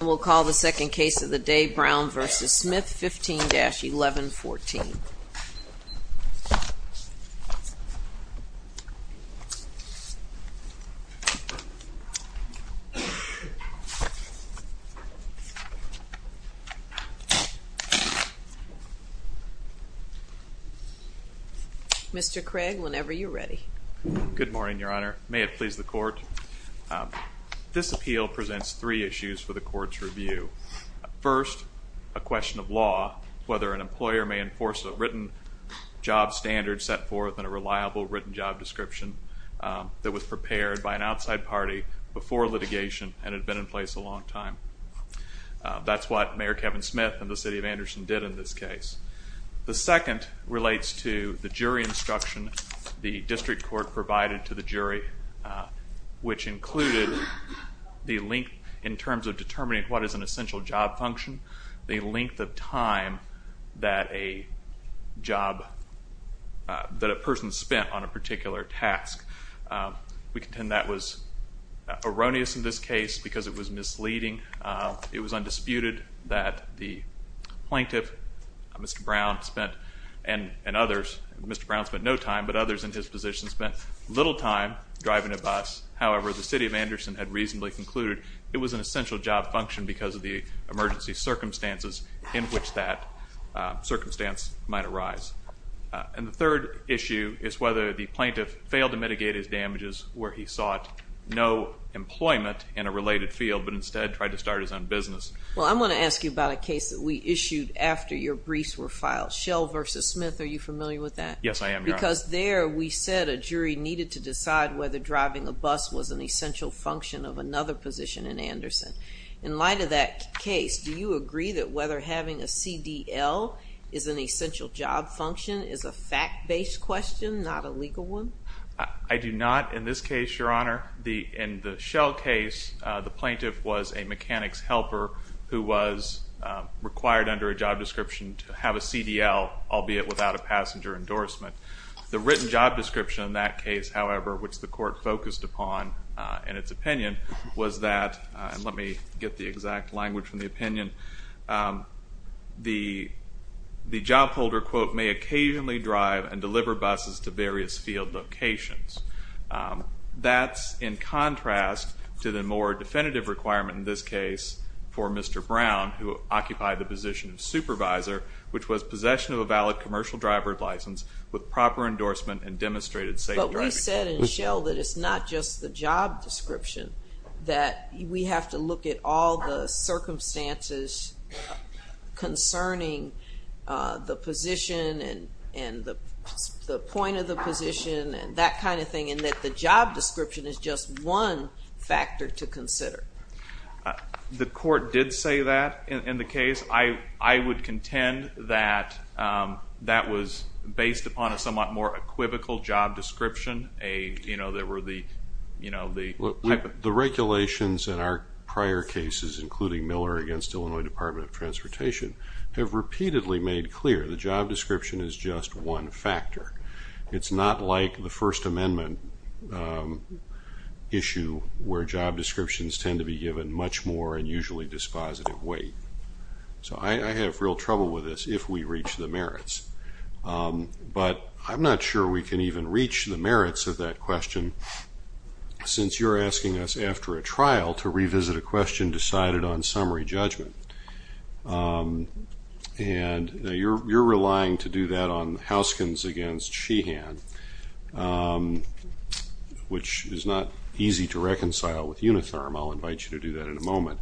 We'll call the second case of the day, Brown v. Smith, 15-1114. Mr. Craig, whenever you're ready. Good morning, Your Honor. May it please the Court, This appeal presents three issues for the Court's review. First, a question of law, whether an employer may enforce a written job standard set forth in a reliable written job description that was prepared by an outside party before litigation and had been in place a long time. That's what Mayor Kevin Smith and the City of Anderson did in this case. The second relates to the jury instruction the district court provided to the jury, which included the length in terms of determining what is an essential job function, the length of time that a job, that a person spent on a particular task. We contend that was erroneous in this case because it was misleading. It was undisputed that the plaintiff, Mr. Brown, spent, and others, Mr. Brown spent no time, but others in his position spent little time driving a bus. However, the City of Anderson had reasonably concluded it was an essential job function because of the emergency circumstances in which that circumstance might arise. And the third issue is whether the plaintiff failed to mitigate his damages where he sought no employment in a related field but instead tried to start his own business. Well, I'm going to ask you about a case that we issued after your briefs were filed, Shell v. Smith. Are you familiar with that? Yes, I am, Your Honor. Because there we said a jury needed to decide whether driving a bus was an essential function of another position in Anderson. In light of that case, do you agree that whether having a CDL is an essential job function is a fact-based question, not a legal one? I do not. In this case, Your Honor, in the Shell case, the plaintiff was a mechanics helper who was required under a job description to have a CDL, albeit without a passenger endorsement. The written job description in that case, however, which the court focused upon in its opinion, was that, and let me get the exact language from the opinion, the job holder, quote, may occasionally drive and deliver buses to various field locations. That's in contrast to the more definitive requirement in this case for Mr. Brown, who occupied the position of supervisor, which was possession of a valid commercial driver's license with proper endorsement and demonstrated safe driving. But we said in Shell that it's not just the job description, that we have to look at all the circumstances concerning the position and the point of the position and that kind of thing, and that the job description is just one factor to consider. The court did say that in the case. I would contend that that was based upon a somewhat more equivocal job description. The regulations in our prior cases, including Miller against Illinois Department of Transportation, have repeatedly made clear the job description is just one factor. It's not like the First Amendment issue where job descriptions tend to be given much more and usually dispositive weight. So I have real trouble with this if we reach the merits. But I'm not sure we can even reach the merits of that question since you're asking us after a trial to revisit a question decided on summary judgment. And you're relying to do that on Houskins against Sheehan, which is not easy to reconcile with Unitherm. I'll invite you to do that in a moment.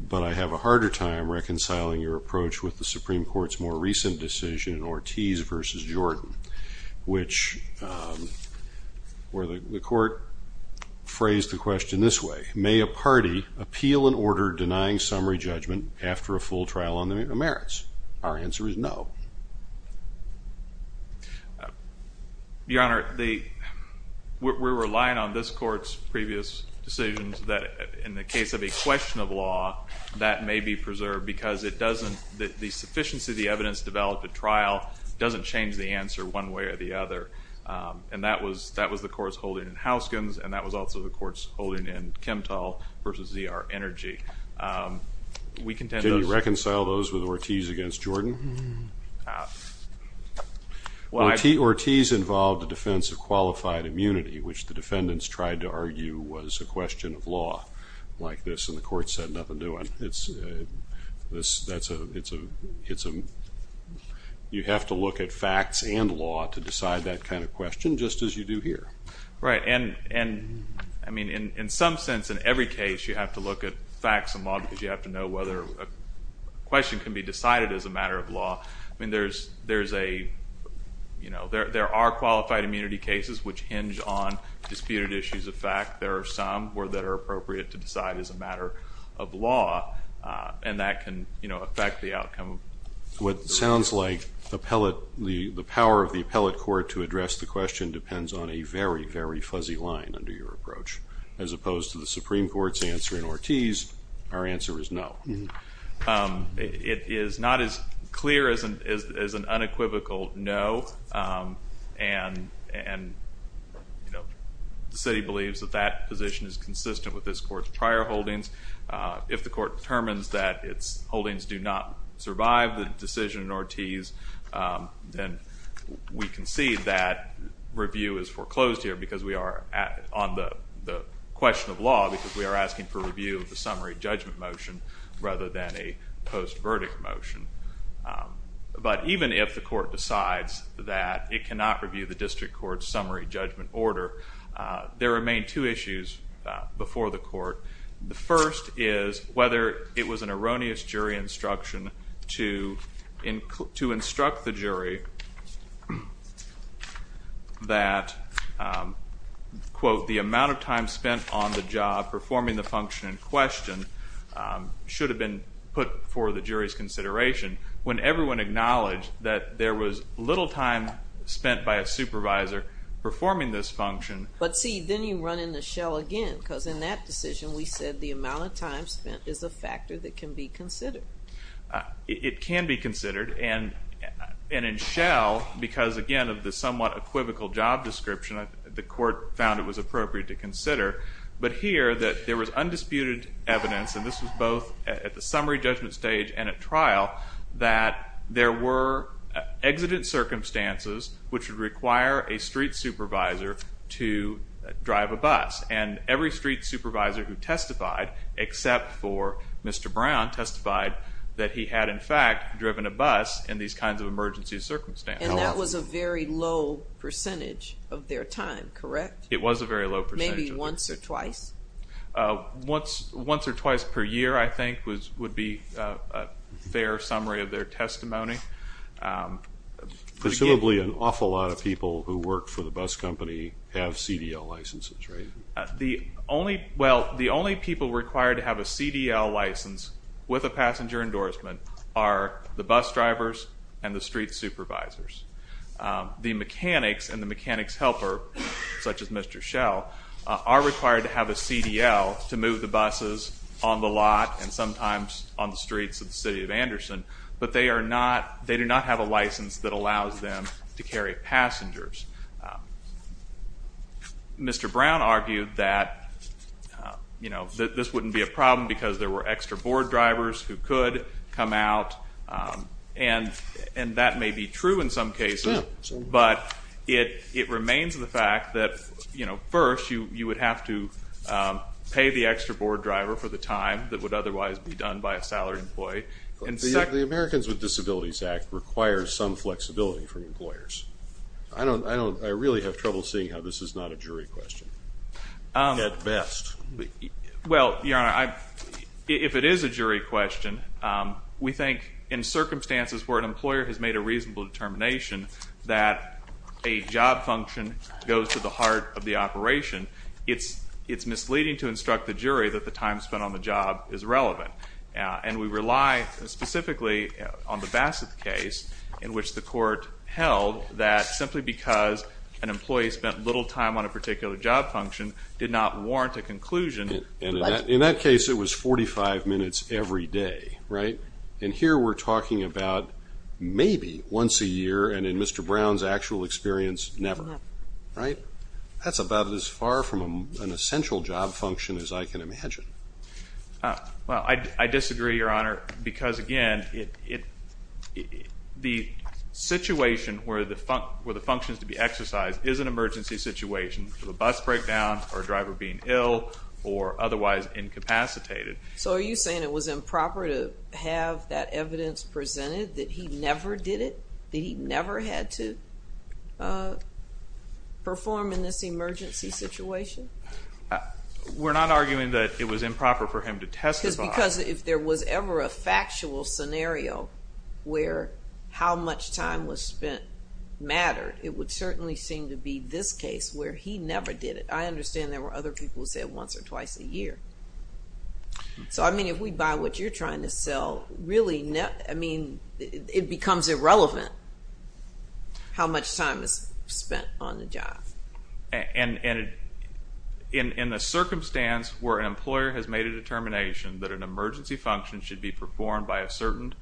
But I have a harder time reconciling your approach with the Supreme Court's more recent decision, Ortiz versus Jordan, where the court phrased the question this way. May a party appeal an order denying summary judgment after a full trial on the merits? Our answer is no. Your Honor, we're relying on this Court's previous decisions that, in the case of a question of law, that may be preserved because the sufficiency of the evidence developed at trial doesn't change the answer one way or the other. And that was the Court's holding in Houskins, and that was also the Court's holding in Kemptall versus ZR Energy. Can you reconcile those with Ortiz against Jordan? Ortiz involved the defense of qualified immunity, which the defendants tried to argue was a question of law like this, and the Court said nothing to it. You have to look at facts and law to decide that kind of question, just as you do here. Right. And, I mean, in some sense, in every case, you have to look at facts and law because you have to know whether a question can be decided as a matter of law. I mean, there are qualified immunity cases which hinge on disputed issues of fact. There are some that are appropriate to decide as a matter of law, and that can affect the outcome. What sounds like the power of the appellate court to address the question depends on a very, very fuzzy line under your approach. As opposed to the Supreme Court's answer in Ortiz, our answer is no. It is not as clear as an unequivocal no, and the city believes that that position is consistent with this Court's prior holdings. If the Court determines that its holdings do not survive the decision in Ortiz, then we concede that review is foreclosed here because we are on the question of law because we are asking for review of the summary judgment motion rather than a post-verdict motion. But even if the Court decides that it cannot review the district court's summary judgment order, the first is whether it was an erroneous jury instruction to instruct the jury that, quote, the amount of time spent on the job performing the function in question should have been put before the jury's consideration when everyone acknowledged that there was little time spent by a supervisor performing this function. But see, then you run into Schell again because in that decision we said the amount of time spent is a factor that can be considered. It can be considered, and in Schell, because again of the somewhat equivocal job description, the Court found it was appropriate to consider. But here that there was undisputed evidence, and this was both at the summary judgment stage and at trial, that there were exigent circumstances which would require a street supervisor to drive a bus, and every street supervisor who testified, except for Mr. Brown, testified that he had, in fact, driven a bus in these kinds of emergency circumstances. And that was a very low percentage of their time, correct? It was a very low percentage. Maybe once or twice? Once or twice per year, I think, would be a fair summary of their testimony. Presumably an awful lot of people who work for the bus company have CDL licenses, right? Well, the only people required to have a CDL license with a passenger endorsement are the bus drivers and the street supervisors. The mechanics and the mechanics helper, such as Mr. Schell, are required to have a CDL to move the buses on the lot and sometimes on the streets of the city of Anderson, but they do not have a license that allows them to carry passengers. Mr. Brown argued that this wouldn't be a problem because there were extra board drivers who could come out, and that may be true in some cases, but it remains the fact that, first, you would have to pay the extra board driver for the time that would otherwise be done by a salaried employee, The Americans with Disabilities Act requires some flexibility from employers. I really have trouble seeing how this is not a jury question, at best. Well, Your Honor, if it is a jury question, we think in circumstances where an employer has made a reasonable determination that a job function goes to the heart of the operation, it's misleading to instruct the jury that the time spent on the job is relevant. And we rely specifically on the Bassett case, in which the court held that simply because an employee spent little time on a particular job function did not warrant a conclusion. In that case, it was 45 minutes every day, right? And here we're talking about maybe once a year, and in Mr. Brown's actual experience, never, right? That's about as far from an essential job function as I can imagine. Well, I disagree, Your Honor, because, again, the situation where the function is to be exercised is an emergency situation, with a bus breakdown or a driver being ill or otherwise incapacitated. So are you saying it was improper to have that evidence presented, that he never did it? That he never had to perform in this emergency situation? We're not arguing that it was improper for him to testify. Because if there was ever a factual scenario where how much time was spent mattered, it would certainly seem to be this case where he never did it. I understand there were other people who said once or twice a year. So, I mean, if we buy what you're trying to sell, really, I mean, it becomes irrelevant how much time is spent on the job. And in the circumstance where an employer has made a determination that an emergency function should be performed by a certain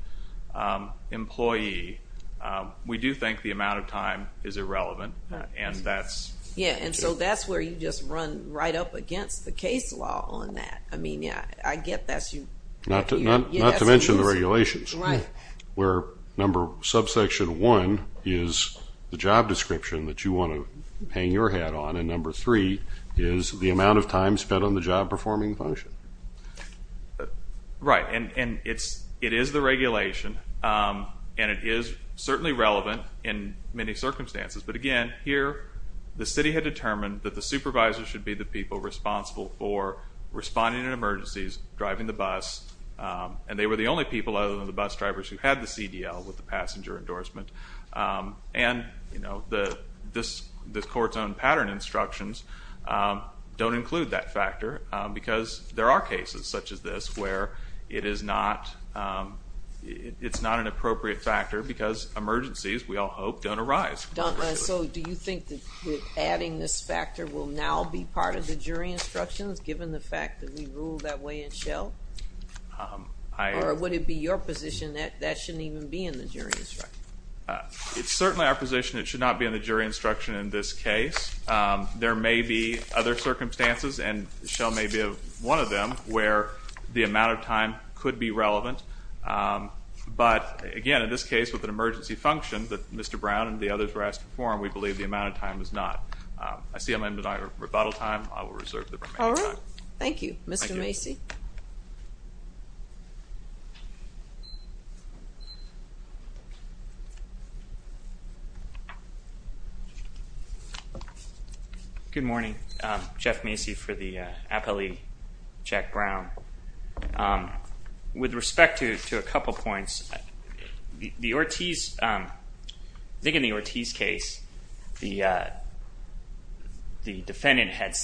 employee, we do think the amount of time is irrelevant, and that's... Yeah, and so that's where you just run right up against the case law on that. I mean, I get that you... Not to mention the regulations. Right. Where number subsection 1 is the job description that you want to hang your hat on, and number 3 is the amount of time spent on the job performing function. Right. And it is the regulation, and it is certainly relevant in many circumstances. But, again, here the city had determined that the supervisor should be the people responsible for responding in emergencies, driving the bus, and they were the only people other than the bus drivers who had the CDL with the passenger endorsement. And, you know, the court's own pattern instructions don't include that factor because there are cases such as this where it is not an appropriate factor because emergencies, we all hope, don't arise. So do you think that adding this factor will now be part of the jury instructions, given the fact that we ruled that way in Shell? Or would it be your position that that shouldn't even be in the jury instruction? It's certainly our position it should not be in the jury instruction in this case. There may be other circumstances, and Shell may be one of them, where the amount of time could be relevant. But, again, in this case with an emergency function that Mr. Brown and the others were asked to perform, we believe the amount of time is not. I see I'm out of rebuttal time. I will reserve the remaining time. All right. Thank you, Mr. Macy. Good morning. Jeff Macy for the appellee, Jack Brown. With respect to a couple points, I think in the Ortiz case, the defendant had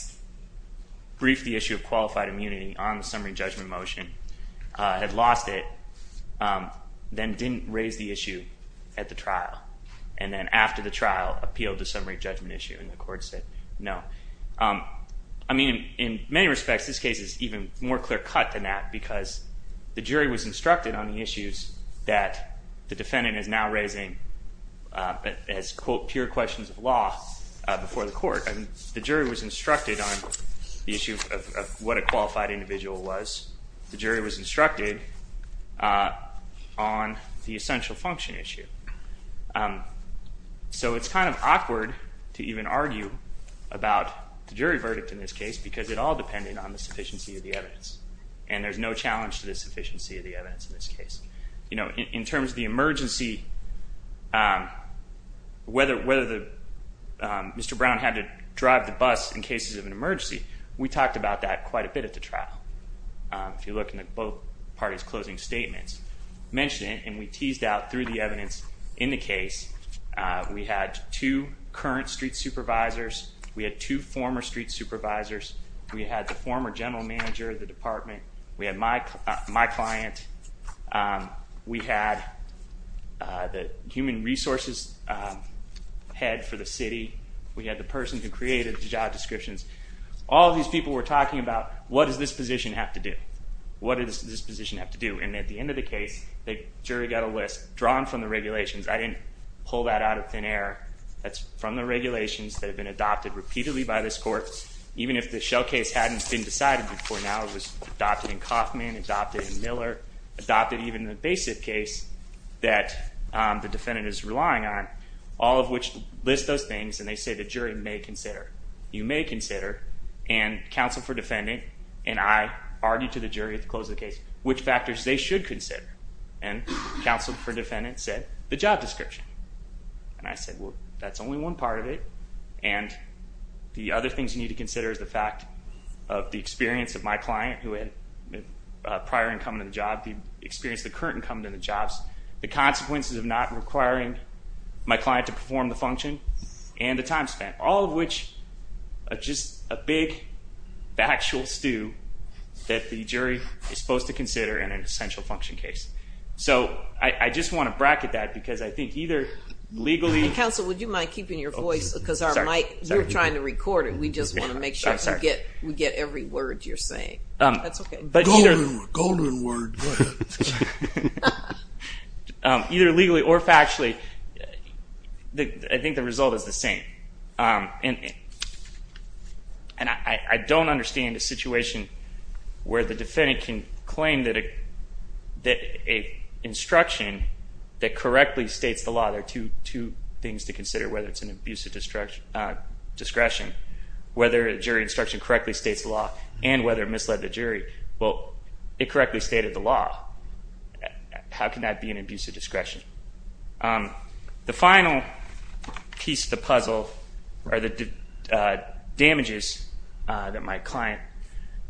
briefed the issue of qualified immunity on the summary judgment motion, had lost it, then didn't raise the issue at the trial, and then after the trial appealed the summary judgment issue, and the court said no. I mean, in many respects, this case is even more clear cut than that because the jury was instructed on the issues that the defendant is now raising as, quote, pure questions of law before the court. And the jury was instructed on the issue of what a qualified individual was. The jury was instructed on the essential function issue. So it's kind of awkward to even argue about the jury verdict in this case because it all depended on the sufficiency of the evidence. And there's no challenge to the sufficiency of the evidence in this case. You know, in terms of the emergency, whether Mr. Brown had to drive the bus in cases of an emergency, we talked about that quite a bit at the trial. If you look in both parties' closing statements, mention it, and we teased out through the evidence in the case. We had two current street supervisors. We had two former street supervisors. We had the former general manager of the department. We had my client. We had the human resources head for the city. We had the person who created the job descriptions. All of these people were talking about, what does this position have to do? What does this position have to do? And at the end of the case, the jury got a list drawn from the regulations. I didn't pull that out of thin air. That's from the regulations that have been adopted repeatedly by this court, even if the shell case hadn't been decided before. Now it was adopted in Kaufman, adopted in Miller, adopted even in the BASIF case that the defendant is relying on, all of which list those things. And they say the jury may consider. You may consider. And counsel for defendant and I argued to the jury at the close of the case which factors they should consider. And counsel for defendant said the job description. And I said, well, that's only one part of it. And the other things you need to consider is the fact of the experience of my client who had prior income to the job, the experience of the current income to the jobs, the consequences of not requiring my client to perform the function, and the time spent. All of which are just a big factual stew that the jury is supposed to consider in an essential function case. So I just want to bracket that because I think either legally. Counsel, would you mind keeping your voice because our mic, we're trying to record it. We just want to make sure we get every word you're saying. That's okay. Golden word. Go ahead. Either legally or factually, I think the result is the same. And I don't understand a situation where the defendant can claim that an instruction that correctly states the law. There are two things to consider, whether it's an abuse of discretion, whether a jury instruction correctly states the law, and whether it misled the jury. Well, it correctly stated the law. How can that be an abuse of discretion? The final piece of the puzzle are the damages that my client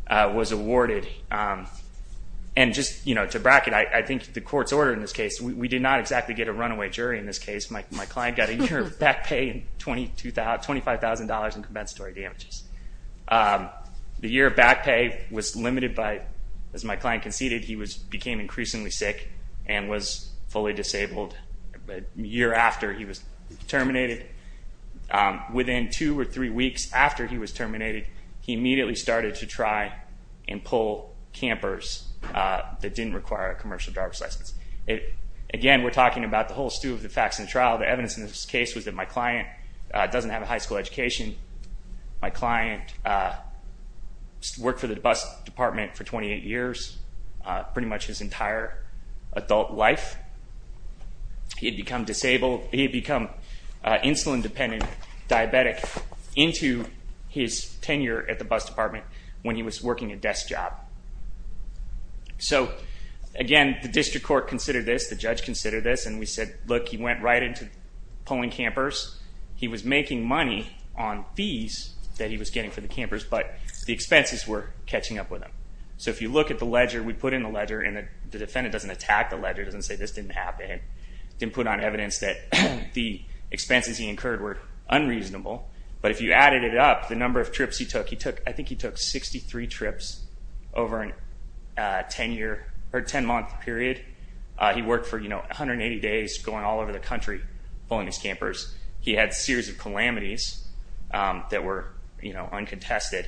was awarded. And just to bracket, I think the court's order in this case, we did not exactly get a runaway jury in this case. My client got a year of back pay and $25,000 in compensatory damages. The year of back pay was limited by, as my client conceded, he became increasingly sick and was fully disabled. A year after he was terminated, within two or three weeks after he was terminated, he immediately started to try and pull campers that didn't require a commercial driver's license. Again, we're talking about the whole stew of the facts in the trial. The evidence in this case was that my client doesn't have a high school education. My client worked for the bus department for 28 years, pretty much his entire adult life. He had become insulin-dependent diabetic into his tenure at the bus department when he was working a desk job. So, again, the district court considered this, the judge considered this, and we said, look, he went right into pulling campers. He was making money on fees that he was getting for the campers, but the expenses were catching up with him. So if you look at the ledger, we put in the ledger, and the defendant doesn't attack the ledger, doesn't say this didn't happen, didn't put on evidence that the expenses he incurred were unreasonable. But if you added it up, the number of trips he took, I think he took 63 trips over a 10-month period. He worked for, you know, 180 days going all over the country pulling these campers. He had a series of calamities that were, you know, uncontested.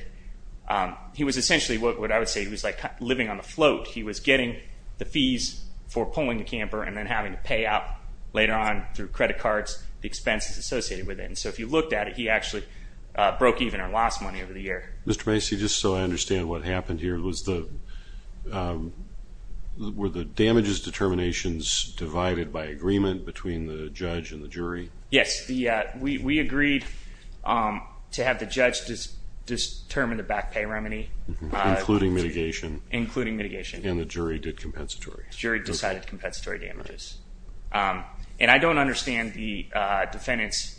He was essentially what I would say he was like living on the float. He was getting the fees for pulling the camper and then having to pay out later on through credit cards the expenses associated with it. And so if you looked at it, he actually broke even or lost money over the year. Mr. Macy, just so I understand what happened here, were the damages determinations divided by agreement between the judge and the jury? Yes. We agreed to have the judge determine the back pay remedy. Including mitigation. Including mitigation. And the jury did compensatory. The jury decided compensatory damages. And I don't understand the defendant's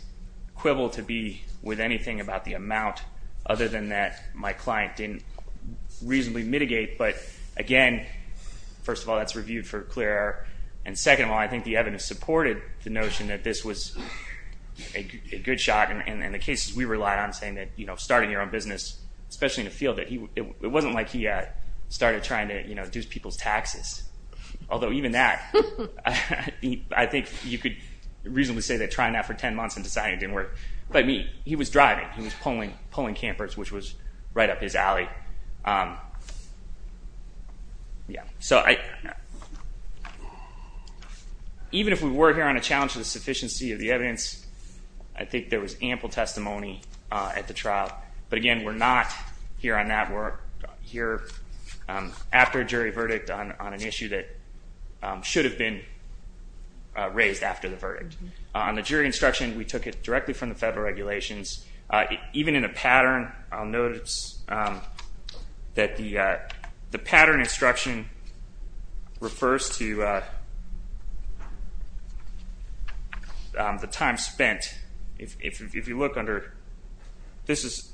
quibble to be with anything about the amount other than that my client didn't reasonably mitigate. But, again, first of all, that's reviewed for clear air. And second of all, I think the evidence supported the notion that this was a good shot. And in the cases we relied on saying that, you know, starting your own business, especially in a field that it wasn't like he started trying to, you know, I think you could reasonably say that trying that for 10 months and deciding it didn't work. But he was driving. He was pulling campers, which was right up his alley. So even if we were here on a challenge to the sufficiency of the evidence, I think there was ample testimony at the trial. But, again, we're not here on that. We're here after a jury verdict on an issue that should have been raised after the verdict. On the jury instruction, we took it directly from the federal regulations. Even in a pattern, I'll notice that the pattern instruction refers to the time spent. If you look under, this is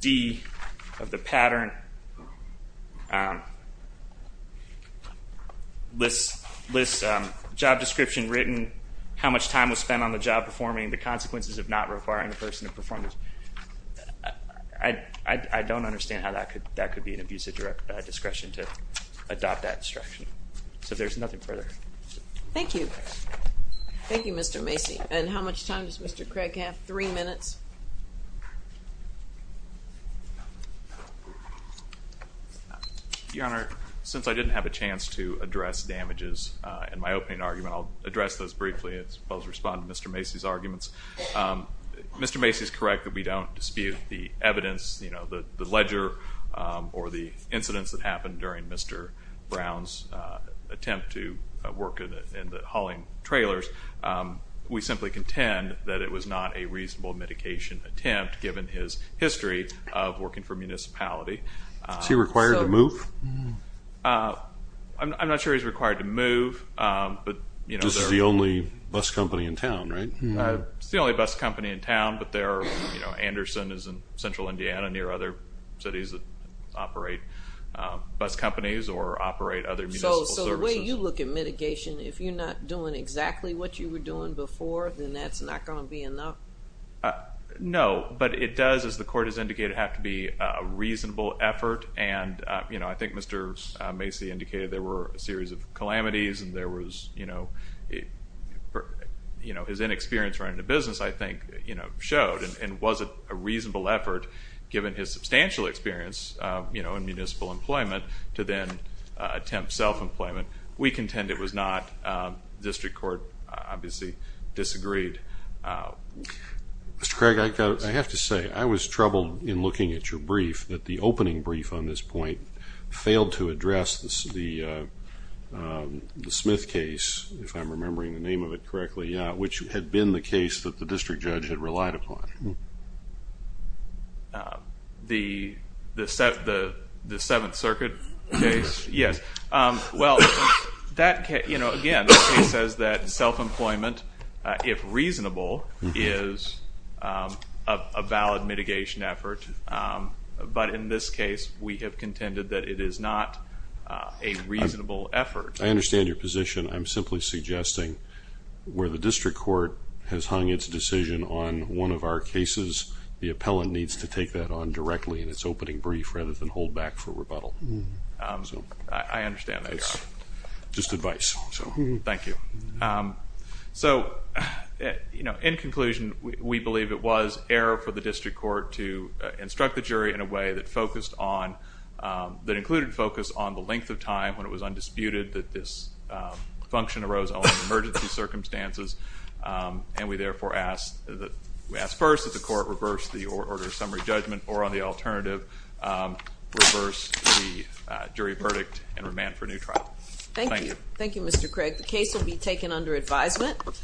D of the pattern, lists job description written, how much time was spent on the job performing, the consequences of not requiring the person to perform. I don't understand how that could be an abuse of discretion to adopt that instruction. So there's nothing further. Thank you. Thank you, Mr. Macy. And how much time does Mr. Craig have? Three minutes. Your Honor, since I didn't have a chance to address damages in my opening argument, I'll address those briefly as well as respond to Mr. Macy's arguments. Mr. Macy is correct that we don't dispute the evidence, the ledger, or the incidents that happened during Mr. Brown's attempt to work in the hauling trailers. We simply contend that it was not a reasonable mitigation attempt, given his history of working for municipality. Is he required to move? I'm not sure he's required to move. This is the only bus company in town, right? It's the only bus company in town, but Anderson is in central Indiana, near other cities that operate bus companies or operate other municipal services. So the way you look at mitigation, if you're not doing exactly what you were doing before, then that's not going to be enough? No, but it does, as the Court has indicated, have to be a reasonable effort. And, you know, I think Mr. Macy indicated there were a series of calamities, and there was, you know, his inexperience running a business, I think, you know, showed. And was it a reasonable effort, given his substantial experience, you know, in municipal employment, to then attempt self-employment? We contend it was not. District Court obviously disagreed. Mr. Craig, I have to say I was troubled in looking at your brief that the opening brief on this point failed to address the Smith case, if I'm remembering the name of it correctly, which had been the case that the district judge had relied upon. The Seventh Circuit case? Yes. Well, that case, you know, again, the case says that self-employment, if reasonable, is a valid mitigation effort. But in this case, we have contended that it is not a reasonable effort. I understand your position. I'm simply suggesting where the district court has hung its decision on one of our cases, the appellant needs to take that on directly in its opening brief rather than hold back for rebuttal. I understand that. Just advice. Thank you. So, you know, in conclusion, we believe it was error for the district court to instruct the jury in a way that included focus on the length of time when it was undisputed that this function arose only in emergency circumstances, and we therefore ask first that the court reverse the order of summary judgment, or on the alternative, reverse the jury verdict and remand for a new trial. Thank you. Thank you, Mr. Craig. The case will be taken under advisement.